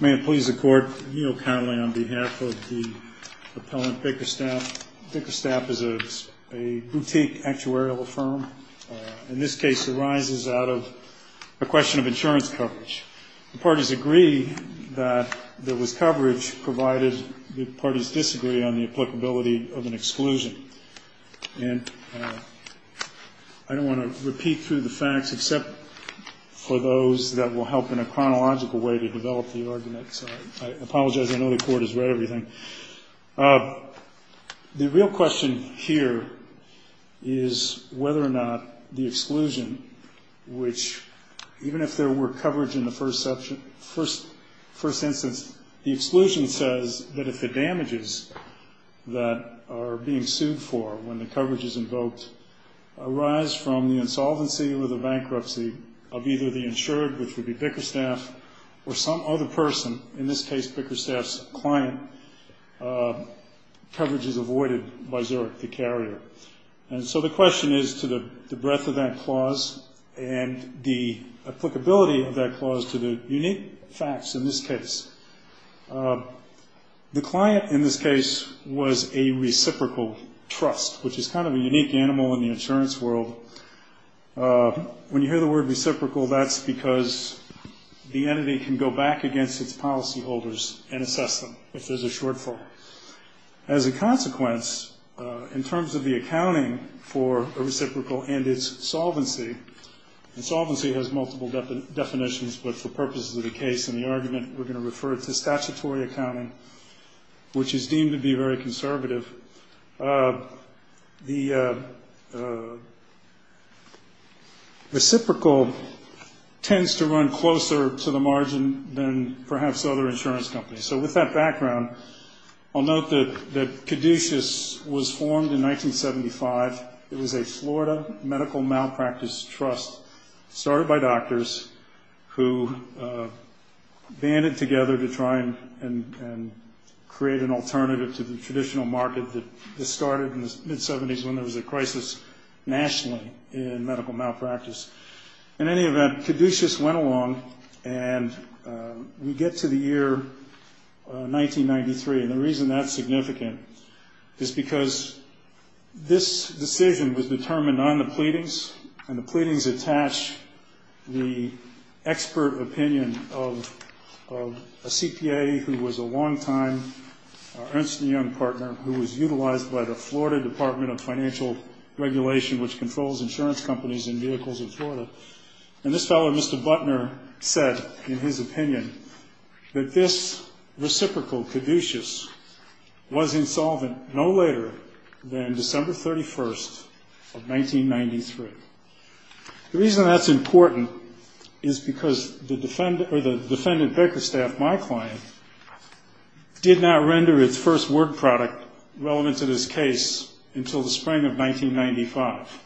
May it please the court, I yield countly on behalf of the appellant Bickerstaff. Bickerstaff is a boutique actuarial firm. In this case it arises out of a question of insurance coverage. The parties agree that there was coverage provided the parties disagree on the applicability of an exclusion. I don't want to repeat through the facts except for those that will help in a chronological way to develop the argument. I apologize, I know the court has read everything. The real question here is whether or not the exclusion, which even if there were coverage in the first instance, the exclusion says that if the damages that are being sued for when the coverage is invoked arise from the insolvency or the bankruptcy of either the insured, which would be Bickerstaff, or some other person, in this case Bickerstaff's client, coverage is avoided by Zurich, the carrier. So the question is to the breadth of that clause and the applicability of that clause to the unique facts in this case. The client in this case was a reciprocal trust, which is kind of a unique animal in the insurance world. When you hear the word reciprocal, that's because the entity can go back against its policyholders and assess them if there's a shortfall. As a consequence, in terms of the accounting for a reciprocal and its solvency, and solvency has multiple definitions, but for purposes of the case and the argument, we're going to refer to statutory accounting, which is deemed to be very conservative. The reciprocal tends to run closer to the margin than perhaps other insurance companies. So with that background, I'll note that Caduceus was formed in 1975. It was a Florida medical malpractice trust started by doctors who banded together to try and create an alternative to the traditional market that started in the mid-'70s when there was a crisis nationally in medical malpractice. In any event, Caduceus went along, and we get to the year 1993. And the reason that's significant is because this decision was determined on the pleadings, and the pleadings attach the expert opinion of a CPA who was a longtime Ernst & Young partner who was utilized by the Florida Department of Financial Regulation, which controls insurance companies and vehicles in Florida. And this fellow, Mr. Butner, said in his opinion that this reciprocal, Caduceus, was insolvent no later than December 31st of 1993. The reason that's important is because the defendant, Bakerstaff, my client, did not render his first word product relevant to this case until the spring of 1995.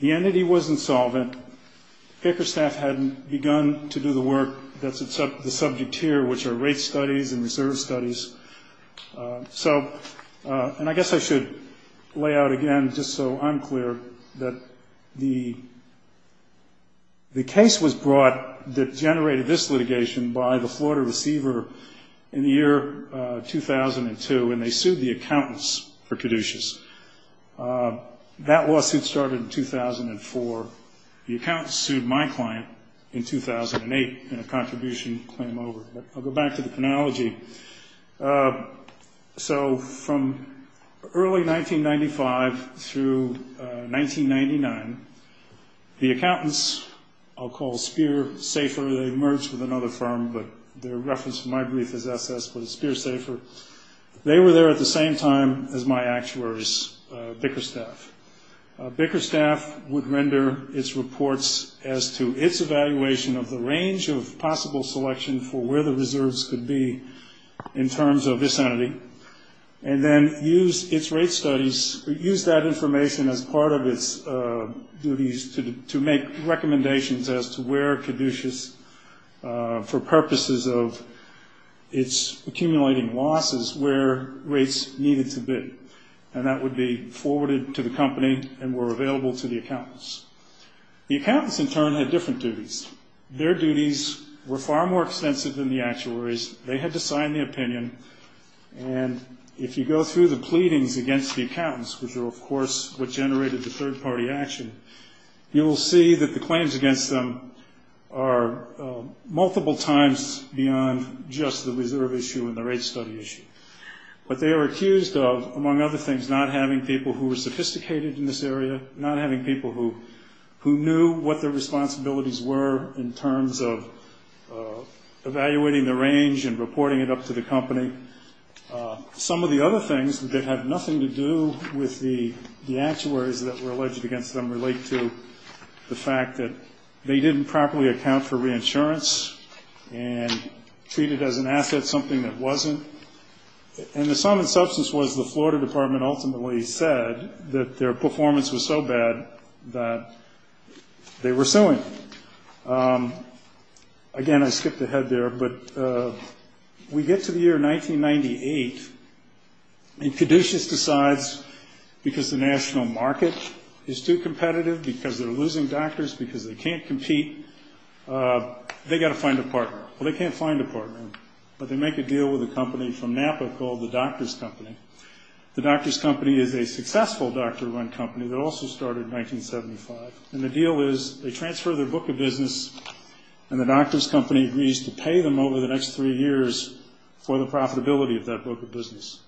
The entity wasn't solvent. Bakerstaff hadn't begun to do the work that's the subject here, which are rate studies and reserve studies. And I guess I should lay out again, just so I'm clear, that the case was brought that generated this litigation by the Florida receiver in the year 2002, and they sued the accountants for Caduceus. That lawsuit started in 2004. The accountants sued my client in 2008 in a contribution claim over. I'll go back to the analogy. So from early 1995 through 1999, the accountants, I'll call Spear Safer, they merged with another firm, but their reference in my brief is SS, but it's Spear Safer. They were there at the same time as my actuaries, Bakerstaff. Bakerstaff would render its reports as to its evaluation of the range of possible selection for where the reserves could be in terms of this entity, and then use its rate studies, use that information as part of its duties to make recommendations as to where Caduceus, for purposes of its accumulating losses, where rates needed to be. And that would be forwarded to the company and were available to the accountants. The accountants, in turn, had different duties. Their duties were far more extensive than the actuaries. They had to sign the opinion, and if you go through the pleadings against the accountants, which are, of course, what generated the third-party action, you will see that the claims against them are multiple times beyond just the reserve issue and the rate study issue. But they were accused of, among other things, not having people who were sophisticated in this area, not having people who knew what their responsibilities were in terms of evaluating the range and reporting it up to the company. Some of the other things that have nothing to do with the actuaries that were alleged against them relate to the fact that they didn't properly account for reinsurance and treat it as an asset, something that wasn't. And the sum and substance was the Florida Department ultimately said that their performance was so bad that they were suing. Again, I skipped ahead there, but we get to the year 1998, and Caduceus decides, because the national market is too competitive, because they're losing doctors, because they can't compete, they've got to find a partner. Well, they can't find a partner, but they make a deal with a company from Napa called the Doctor's Company. The Doctor's Company is a successful doctor-run company that also started in 1975, and the deal is they transfer their book of business, and the Doctor's Company agrees to pay them over the next three years for the profitability of that book of business.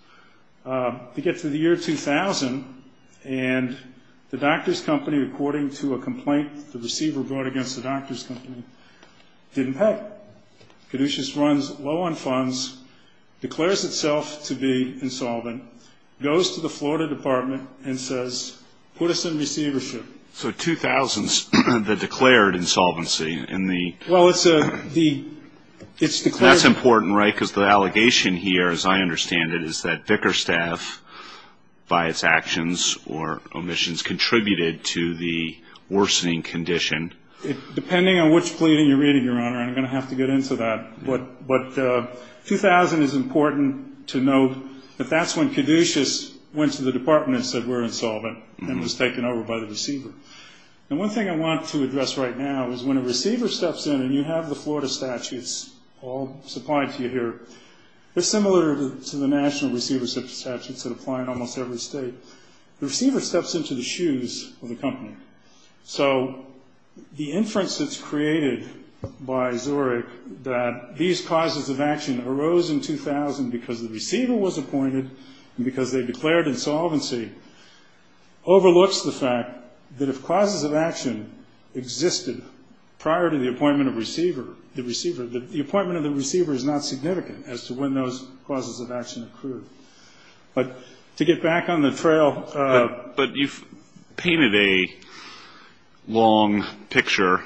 We get to the year 2000, and the Doctor's Company, according to a complaint the receiver brought against the Doctor's Company, didn't pay. Caduceus runs low on funds, declares itself to be insolvent, goes to the Florida Department and says, put us in receivership. So 2000, the declared insolvency. Well, it's declared. That's important, right, because the allegation here, as I understand it, is that Vickerstaff, by its actions or omissions, contributed to the worsening condition. Depending on which pleading you're reading, Your Honor, I'm going to have to get into that. But 2000 is important to note that that's when Caduceus went to the department and said we're insolvent and was taken over by the receiver. And one thing I want to address right now is when a receiver steps in, and you have the Florida statutes all supplied to you here, they're similar to the national receiver statutes that apply in almost every state. The receiver steps into the shoes of the company. So the inference that's created by Zurich that these causes of action arose in 2000 because the receiver was appointed and because they declared insolvency overlooks the fact that if causes of action existed prior to the appointment of the receiver, the appointment of the receiver is not significant as to when those causes of action occurred. But to get back on the trail. But you've painted a long picture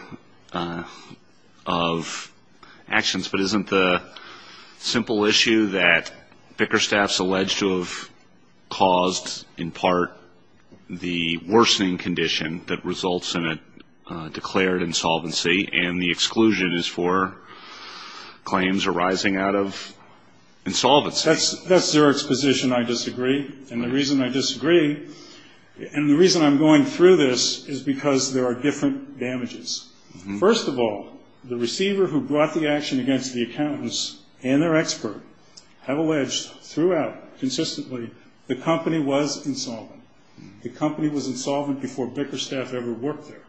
of actions, but isn't the simple issue that Vickerstaff's alleged to have caused, in part, the worsening condition that results in a declared insolvency and the exclusion is for claims arising out of insolvency? That's Zurich's position, I disagree. And the reason I disagree and the reason I'm going through this is because there are different damages. First of all, the receiver who brought the action against the accountants and their expert have alleged throughout consistently the company was insolvent. The company was insolvent before Vickerstaff ever worked there.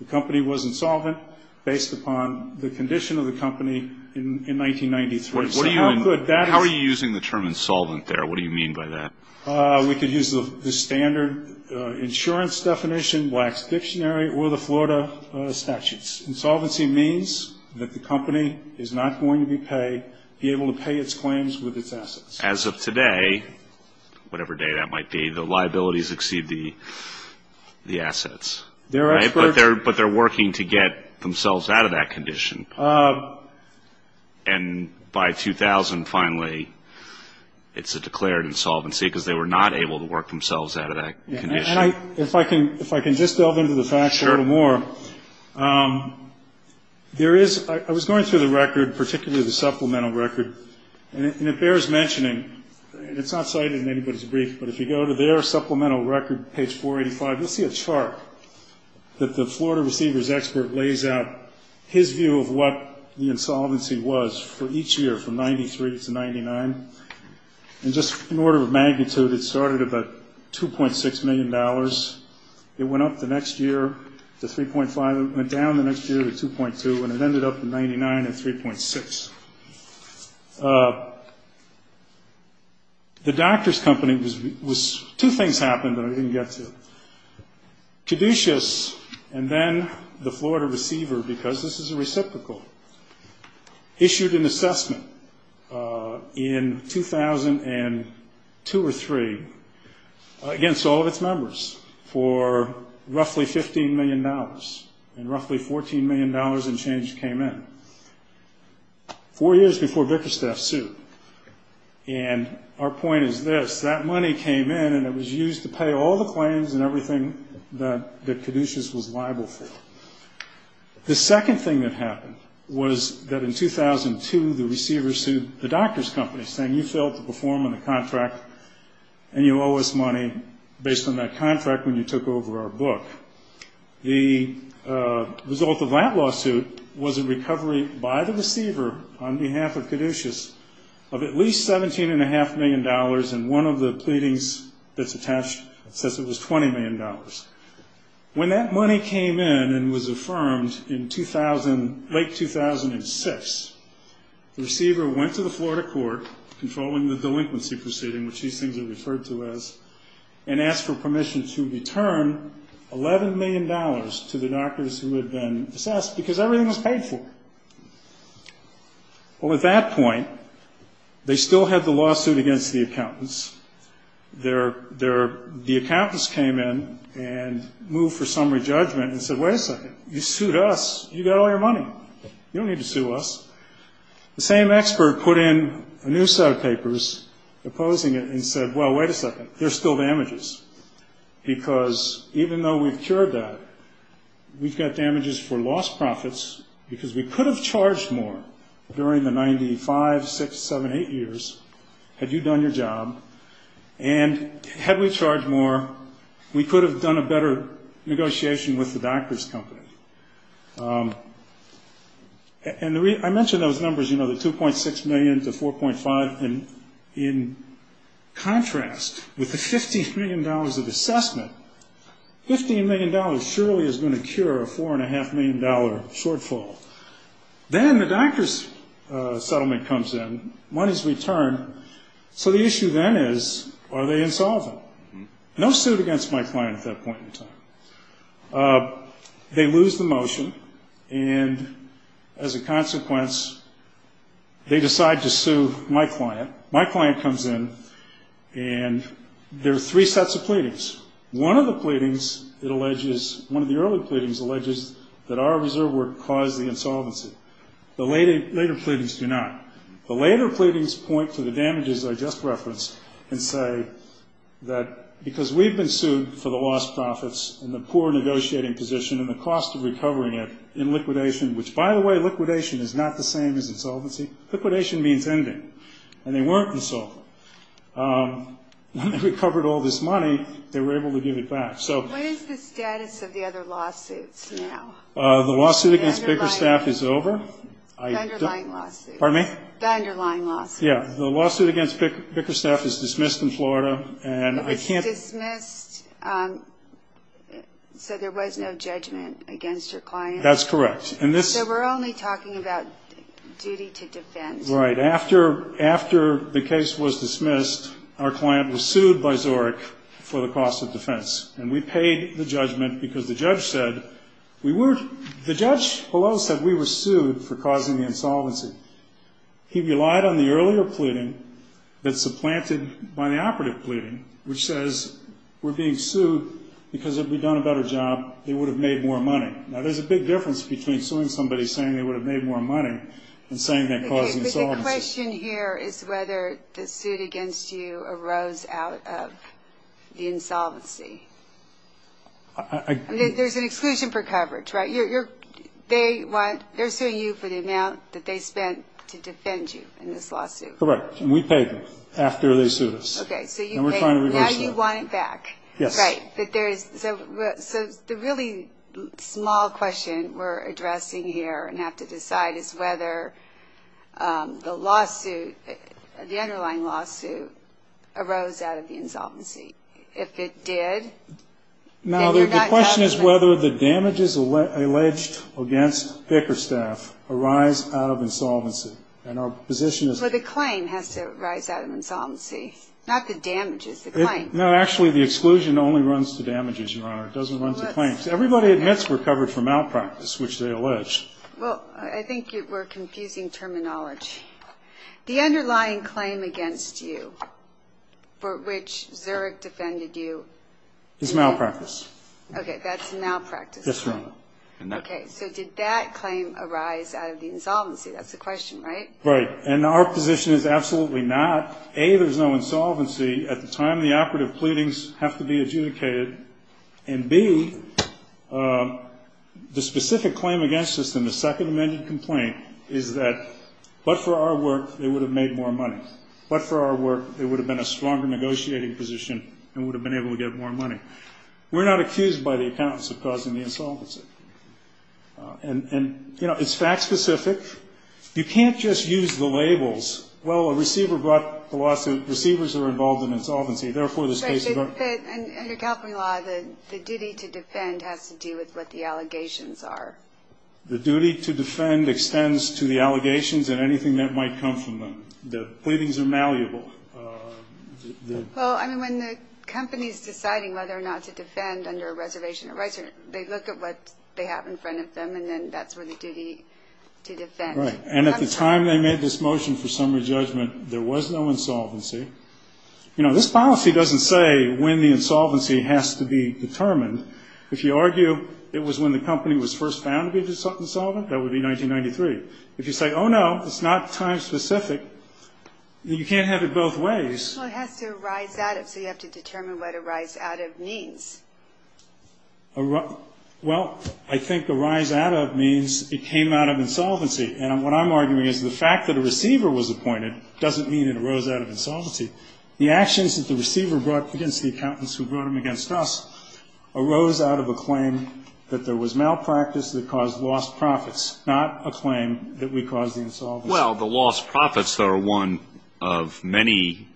The company was insolvent based upon the condition of the company in 1993. How are you using the term insolvent there? What do you mean by that? We could use the standard insurance definition, Black's Dictionary, or the Florida statutes. Insolvency means that the company is not going to be able to pay its claims with its assets. As of today, whatever day that might be, the liabilities exceed the assets. Right? But they're working to get themselves out of that condition. And by 2000, finally, it's a declared insolvency because they were not able to work themselves out of that condition. If I can just delve into the facts a little more. Sure. I was going through the record, particularly the supplemental record, and it bears mentioning, and it's not cited in anybody's brief, but if you go to their supplemental record, page 485, you'll see a chart that the Florida receiver's expert lays out his view of what the insolvency was for each year from 1993 to 1999. And just in order of magnitude, it started at about $2.6 million. It went up the next year to 3.5. It went down the next year to 2.2. And it ended up at 99 and 3.6. The doctor's company was two things happened that I didn't get to. Caduceus and then the Florida receiver, because this is a reciprocal, issued an assessment in 2002 or 2003 against all of its members for roughly $15 million, and roughly $14 million in change came in. Four years before Vickerstaff sued. And our point is this. That money came in, and it was used to pay all the claims and everything that Caduceus was liable for. The second thing that happened was that in 2002, the receiver sued the doctor's company, saying, you failed to perform on the contract, and you owe us money based on that contract when you took over our book. The result of that lawsuit was a recovery by the receiver on behalf of Caduceus of at least $17.5 million, and one of the pleadings that's attached says it was $20 million. When that money came in and was affirmed in late 2006, the receiver went to the Florida court, controlling the delinquency proceeding, which these things are referred to as, and asked for permission to return $11 million to the doctors who had been assessed, because everything was paid for. Well, at that point, they still had the lawsuit against the accountants. The accountants came in and moved for summary judgment and said, wait a second, you sued us. You got all your money. You don't need to sue us. The same expert put in a new set of papers opposing it and said, well, wait a second, there's still damages, because even though we've cured that, we've got damages for lost profits, because we could have charged more during the 95, 6, 7, 8 years had you done your job, and had we charged more, we could have done a better negotiation with the doctor's company. And I mentioned those numbers, you know, the $2.6 million to $4.5 million. In contrast, with the $15 million of assessment, $15 million surely is going to cure a $4.5 million shortfall. Then the doctor's settlement comes in, money's returned, so the issue then is, are they insolvent? No suit against my client at that point in time. They lose the motion, and as a consequence, they decide to sue my client. My client comes in, and there are three sets of pleadings. One of the early pleadings alleges that our reserve work caused the insolvency. The later pleadings do not. The later pleadings point to the damages I just referenced and say that because we've been sued for the lost profits and the poor negotiating position and the cost of recovering it in liquidation, which, by the way, liquidation is not the same as insolvency. Liquidation means ending, and they weren't insolvent. When they recovered all this money, they were able to give it back, so. What is the status of the other lawsuits now? The lawsuit against Bickerstaff is over. The underlying lawsuit. Pardon me? The underlying lawsuit. Yeah, the lawsuit against Bickerstaff is dismissed in Florida, and I can't. Dismissed, so there was no judgment against your client? That's correct. So we're only talking about duty to defend. Right. After the case was dismissed, our client was sued by Zorich for the cost of defense, and we paid the judgment because the judge said we were. The judge below said we were sued for causing the insolvency. He relied on the earlier pleading that's supplanted by the operative pleading, which says we're being sued because if we'd done a better job, they would have made more money. Now, there's a big difference between suing somebody saying they would have made more money and saying they caused insolvency. But the question here is whether the suit against you arose out of the insolvency. There's an exclusion for coverage, right? They're suing you for the amount that they spent to defend you in this lawsuit. Correct, and we paid them after they sued us. Okay, so you paid them. Now you want it back. Yes. Right. So the really small question we're addressing here and have to decide is whether the lawsuit, the underlying lawsuit, arose out of the insolvency. If it did, then you're not talking about it. Now, the question is whether the damages alleged against Pickerstaff arise out of insolvency. And our position is that the claim has to arise out of insolvency, not the damages, the claim. No, actually, the exclusion only runs to damages, Your Honor. It doesn't run to claims. Everybody admits we're covered for malpractice, which they allege. Well, I think you're confusing terminology. The underlying claim against you for which Zurich defended you is malpractice. Okay, that's malpractice. Yes, Your Honor. Okay, so did that claim arise out of the insolvency? That's the question, right? Right, and our position is absolutely not. A, there's no insolvency at the time the operative pleadings have to be adjudicated, and, B, the specific claim against us in the Second Amendment complaint is that, but for our work, they would have made more money. But for our work, there would have been a stronger negotiating position and we would have been able to get more money. We're not accused by the accountants of causing the insolvency. And, you know, it's fact-specific. You can't just use the labels. Well, a receiver brought the lawsuit. Receivers are involved in insolvency. Therefore, this case is our own. Right, and under California law, the duty to defend has to do with what the allegations are. The duty to defend extends to the allegations and anything that might come from them. The pleadings are malleable. Well, I mean, when the company is deciding whether or not to defend under a reservation of rights, they look at what they have in front of them, and then that's where the duty to defend comes from. Right, and at the time they made this motion for summary judgment, there was no insolvency. You know, this policy doesn't say when the insolvency has to be determined. If you argue it was when the company was first found to be insolvent, that would be 1993. If you say, oh, no, it's not time-specific, then you can't have it both ways. Well, it has to arise out of, so you have to determine what arise out of means. Well, I think arise out of means it came out of insolvency. And what I'm arguing is the fact that a receiver was appointed doesn't mean it arose out of insolvency. The actions that the receiver brought against the accountants who brought them against us arose out of a claim that there was malpractice that caused lost profits, not a claim that we caused the insolvency. Well, the lost profits are one of many,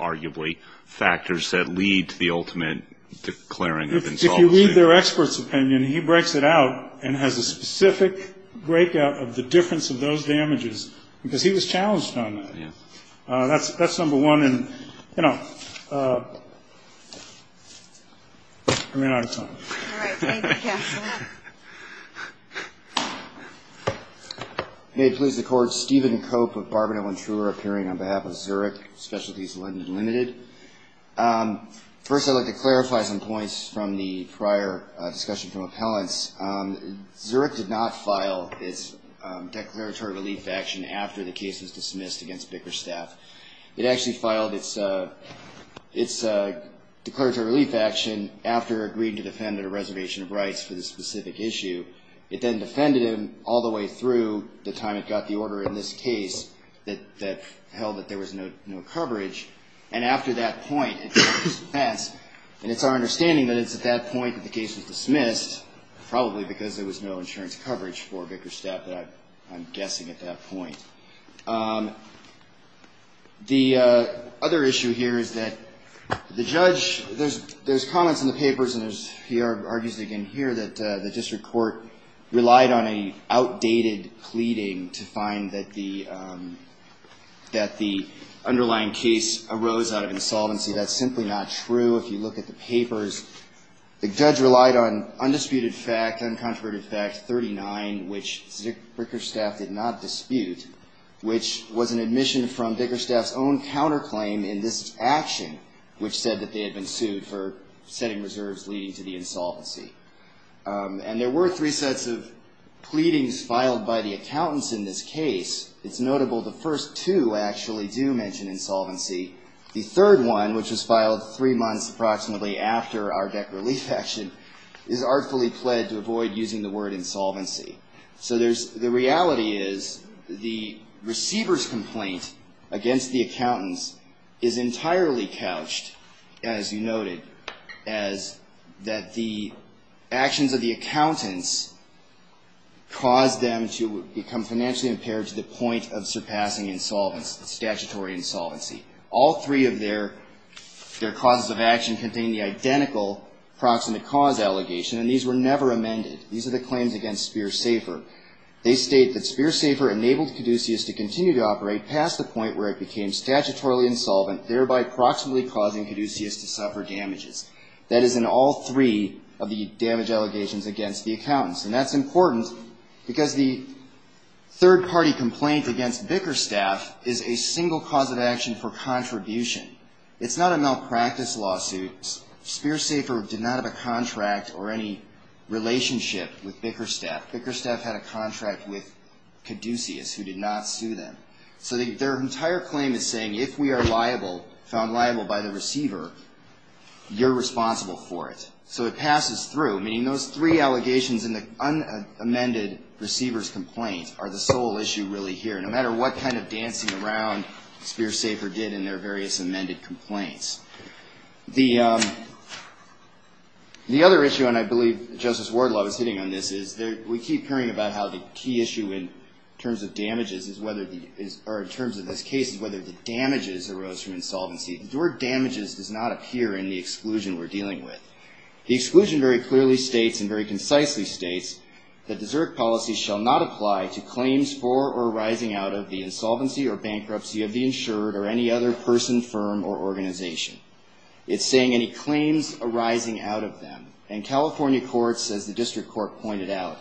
arguably, factors that lead to the ultimate declaring of insolvency. If you read their expert's opinion, he breaks it out and has a specific breakout of the difference of those damages, because he was challenged on that. That's number one. And, you know, I ran out of time. All right. Thank you, Counselor. May it please the Court. Stephen Cope of Barbonet, Ventura, appearing on behalf of Zurich Specialties Limited. First, I'd like to clarify some points from the prior discussion from appellants. Zurich did not file its declaratory relief action after the case was dismissed against Bickerstaff. It actually filed its declaratory relief action after agreeing to defend at a reservation of rights for this specific issue. It then defended him all the way through the time it got the order in this case that held that there was no coverage, and after that point, it dismissed. And it's our understanding that it's at that point that the case was dismissed, probably because there was no insurance coverage for Bickerstaff, I'm guessing, at that point. The other issue here is that the judge, there's comments in the papers, and he argues again here, that the district court relied on an outdated pleading to find that the underlying case arose out of insolvency. That's simply not true. If you look at the papers, the judge relied on undisputed fact, uncontroverted fact 39, which Bickerstaff did not dispute, which was an admission from Bickerstaff's own counterclaim in this action, which said that they had been sued for setting reserves leading to the insolvency. And there were three sets of pleadings filed by the accountants in this case. It's notable the first two actually do mention insolvency. The third one, which was filed three months approximately after our DEC relief action, is artfully pled to avoid using the word insolvency. So there's, the reality is the receiver's complaint against the accountants is entirely couched, as you noted, as that the actions of the accountants caused them to become financially impaired to the point of surpassing insolvency, statutory insolvency. All three of their causes of action contain the identical proximate cause allegation, and these were never amended. These are the claims against Spears Safer. They state that Spears Safer enabled Caduceus to continue to operate past the point where it became statutorily insolvent, thereby proximately causing Caduceus to suffer damages. That is in all three of the damage allegations against the accountants. And that's important because the third-party complaint against Bickerstaff is a single cause of action for contribution. Bickerstaff had a contract with Caduceus, who did not sue them. So their entire claim is saying if we are found liable by the receiver, you're responsible for it. So it passes through, meaning those three allegations in the unamended receiver's complaint are the sole issue really here, no matter what kind of dancing around Spears Safer did in their various amended complaints. The other issue, and I believe Justice Wardlaw is hitting on this, is we keep hearing about how the key issue in terms of damages is whether, or in terms of this case, is whether the damages arose from insolvency. The word damages does not appear in the exclusion we're dealing with. The exclusion very clearly states and very concisely states that the Zurich policy shall not apply to claims for or rising out of the insolvency or bankruptcy of the insured or any other person, firm, or organization. It's saying any claims arising out of them. And California courts, as the district court pointed out,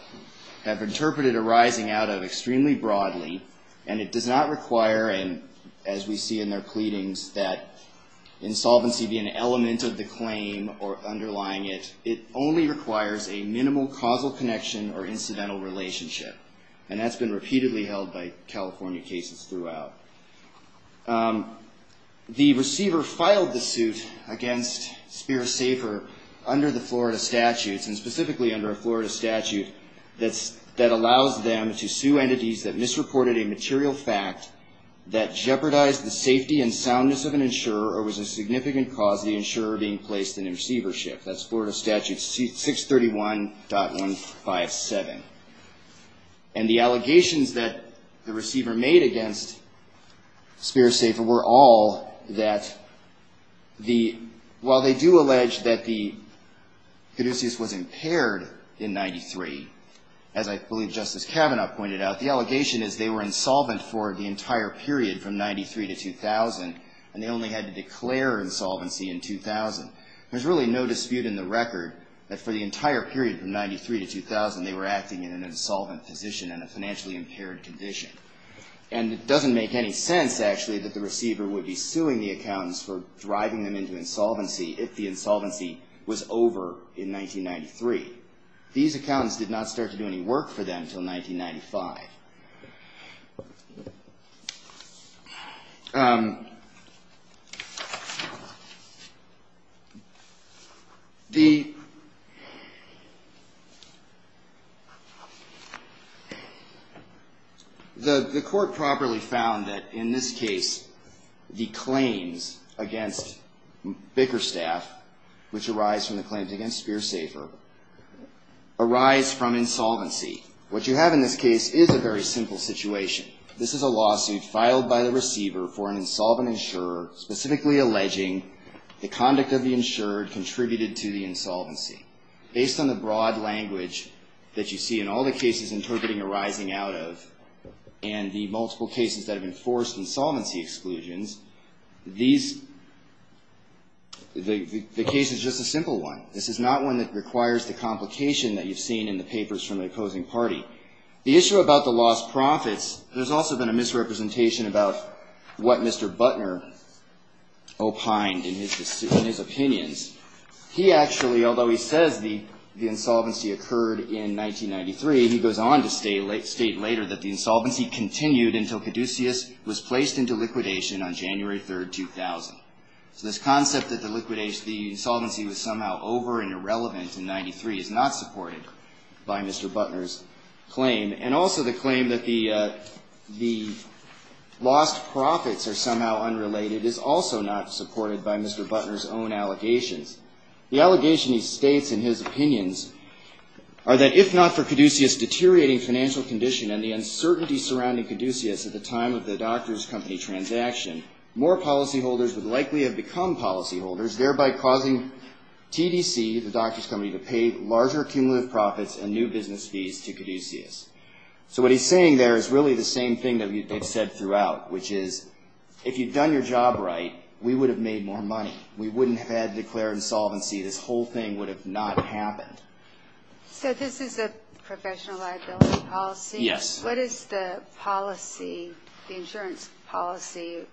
have interpreted arising out of extremely broadly, and it does not require, as we see in their pleadings, that insolvency be an element of the claim or underlying it. It only requires a minimal causal connection or incidental relationship. And that's been repeatedly held by California cases throughout. The receiver filed the suit against Spears Safer under the Florida statutes, and specifically under a Florida statute that allows them to sue entities that misreported a material fact that jeopardized the safety and soundness of an insurer or was a significant cause of the insurer being placed in a receivership. That's Florida Statute 631.157. And the allegations that the receiver made against Spears Safer were all that the, while they do allege that the caduceus was impaired in 93, as I believe Justice Kavanaugh pointed out, the allegation is they were insolvent for the entire period from 93 to 2000, and they only had to declare insolvency in 2000. There's really no dispute in the record that for the entire period from 93 to 2000, they were acting in an insolvent position and a financially impaired condition. And it doesn't make any sense, actually, that the receiver would be suing the accountants for driving them into insolvency if the insolvency was over in 1993. These accountants did not start to do any work for them until 1995. The court properly found that in this case, the claims against Bickerstaff, which arise from the claims against Spears Safer, arise from insolvency. What you have in this case is a very simple situation. This is a lawsuit filed by the receiver for an insolvent insurer, specifically alleging the conduct of the insured contributed to the insolvency. Based on the broad language that you see in all the cases interpreting arising out of, and the multiple cases that have enforced insolvency exclusions, these, the case is just a simple one. This is not one that requires the complication that you've seen in the papers from the opposing party. The issue about the lost profits, there's also been a misrepresentation about what Mr. Butner opined in his opinions. He actually, although he says the insolvency occurred in 1993, he goes on to state later that the insolvency continued until Caduceus was placed into liquidation on January 3, 2000. So this concept that the liquidation, the insolvency was somehow over and irrelevant in 93 is not supported by Mr. Butner's claim, and also the claim that the lost profits are somehow unrelated is also not supported by Mr. Butner's own allegations. The allegation he states in his opinions are that if not for Caduceus deteriorating financial condition and the uncertainty surrounding Caduceus at the time of the doctor's company transaction, more policyholders would likely have become policyholders, thereby causing TDC, the doctor's company, to pay larger cumulative profits and new business fees to Caduceus. So what he's saying there is really the same thing that they've said throughout, which is if you've done your job right, we would have made more money. We wouldn't have had declared insolvency. This whole thing would have not happened. So this is a professional liability policy? Yes. What is the policy, the insurance policy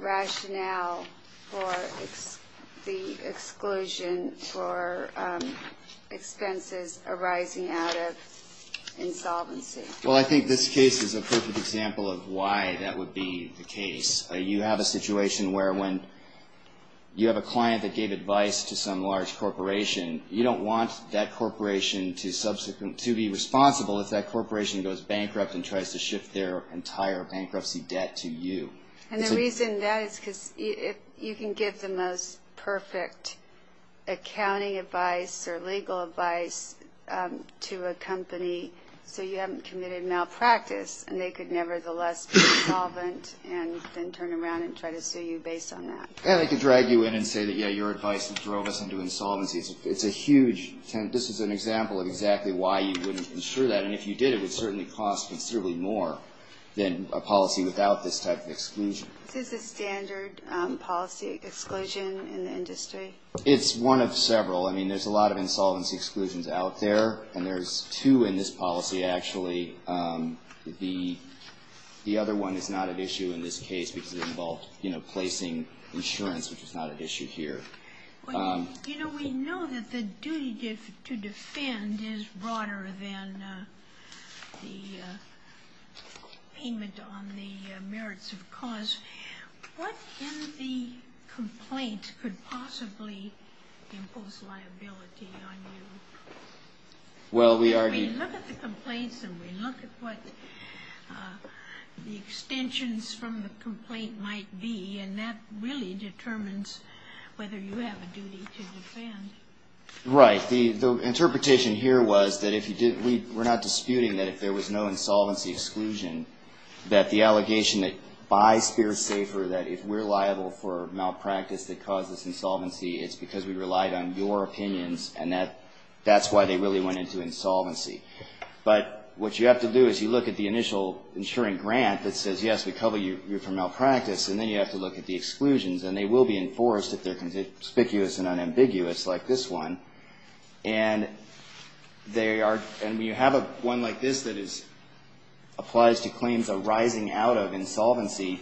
rationale for the exclusion for expenses arising out of insolvency? Well, I think this case is a perfect example of why that would be the case. You have a situation where when you have a client that gave advice to some large corporation, you don't want that corporation to be responsible if that corporation goes bankrupt and tries to shift their entire bankruptcy debt to you. And the reason that is because you can give the most perfect accounting advice or legal advice to a company so you haven't committed malpractice, and they could nevertheless be insolvent and then turn around and try to sue you based on that. And they can drag you in and say that, yeah, your advice drove us into insolvency. It's a huge, this is an example of exactly why you wouldn't insure that. And if you did, it would certainly cost considerably more than a policy without this type of exclusion. Is this a standard policy exclusion in the industry? It's one of several. I mean, there's a lot of insolvency exclusions out there, and there's two in this policy, actually. The other one is not at issue in this case because it involved placing insurance, which is not at issue here. You know, we know that the duty to defend is broader than the payment on the merits of cause. What in the complaint could possibly impose liability on you? We look at the complaints and we look at what the extensions from the complaint might be, and that really determines whether you have a duty to defend. Right. The interpretation here was that if you didn't, we're not disputing that if there was no insolvency exclusion, that the allegation that by Spear Safer, that if we're liable for malpractice that caused this insolvency, it's because we relied on your opinions, and that's why they really went into insolvency. But what you have to do is you look at the initial insuring grant that says, yes, we cover you for malpractice, and then you have to look at the claims that are forced, if they're conspicuous and unambiguous, like this one. And they are, and you have one like this that is, applies to claims arising out of insolvency.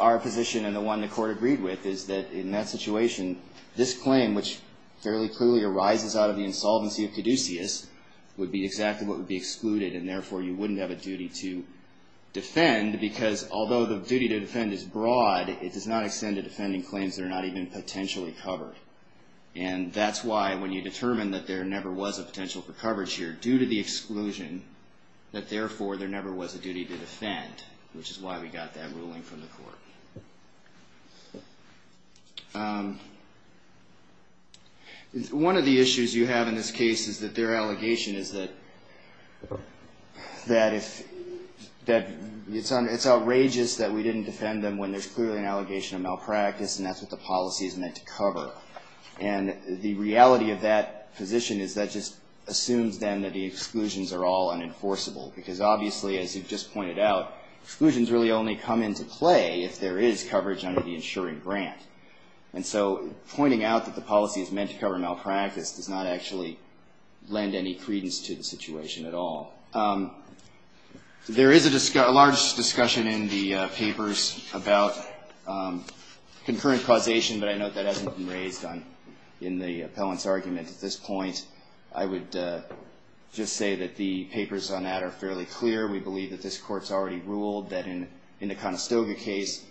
Our position and the one the Court agreed with is that in that situation, this claim, which fairly clearly arises out of the insolvency of Caduceus, would be exactly what would be excluded, and therefore, you wouldn't have a duty to defend, because although the duty to defend is broad, it does not extend to defending claims that are not even potentially covered. And that's why, when you determine that there never was a potential for coverage here, due to the exclusion, that therefore, there never was a duty to defend, which is why we got that ruling from the Court. One of the issues you have in this case is that their allegation is that it's outrageous, and it's outrageous, and it's outrageous that we didn't defend them when there's clearly an allegation of malpractice, and that's what the policy is meant to cover. And the reality of that position is that just assumes, then, that the exclusions are all unenforceable. Because obviously, as you've just pointed out, exclusions really only come into play if there is coverage under the insuring grant. And so pointing out that the policy is meant to cover malpractice does not actually lend any credence to the situation at all. There is a large discussion in the papers about concurrent causation, but I note that hasn't been raised in the appellant's argument at this point. I would just say that the papers on that are fairly clear. We believe that this Court's already ruled that in the Conestoga case,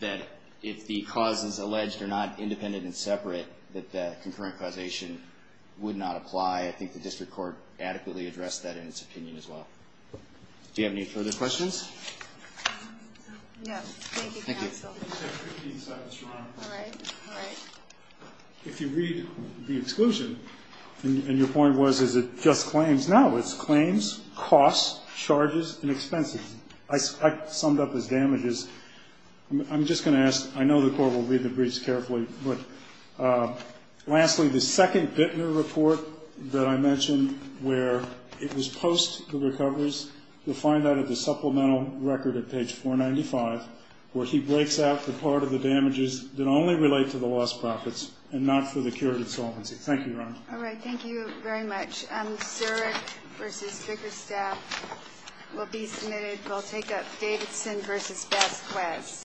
that if the causes alleged are not independent and separate, that the concurrent causation would not apply. I think the district court adequately addressed that in its own opinion as well. Do you have any further questions? No. Thank you, counsel. If you read the exclusion, and your point was, is it just claims? No, it's claims, costs, charges, and expenses. I summed up as damages. I'm just going to ask, I know the Court will read the briefs carefully, but lastly, the second Bittner report that I mentioned, where it was post the recovers, you'll find that at the supplemental record at page 495, where he breaks out the part of the damages that only relate to the lost profits and not for the cure of insolvency. Thank you, Your Honor. All right. Thank you very much.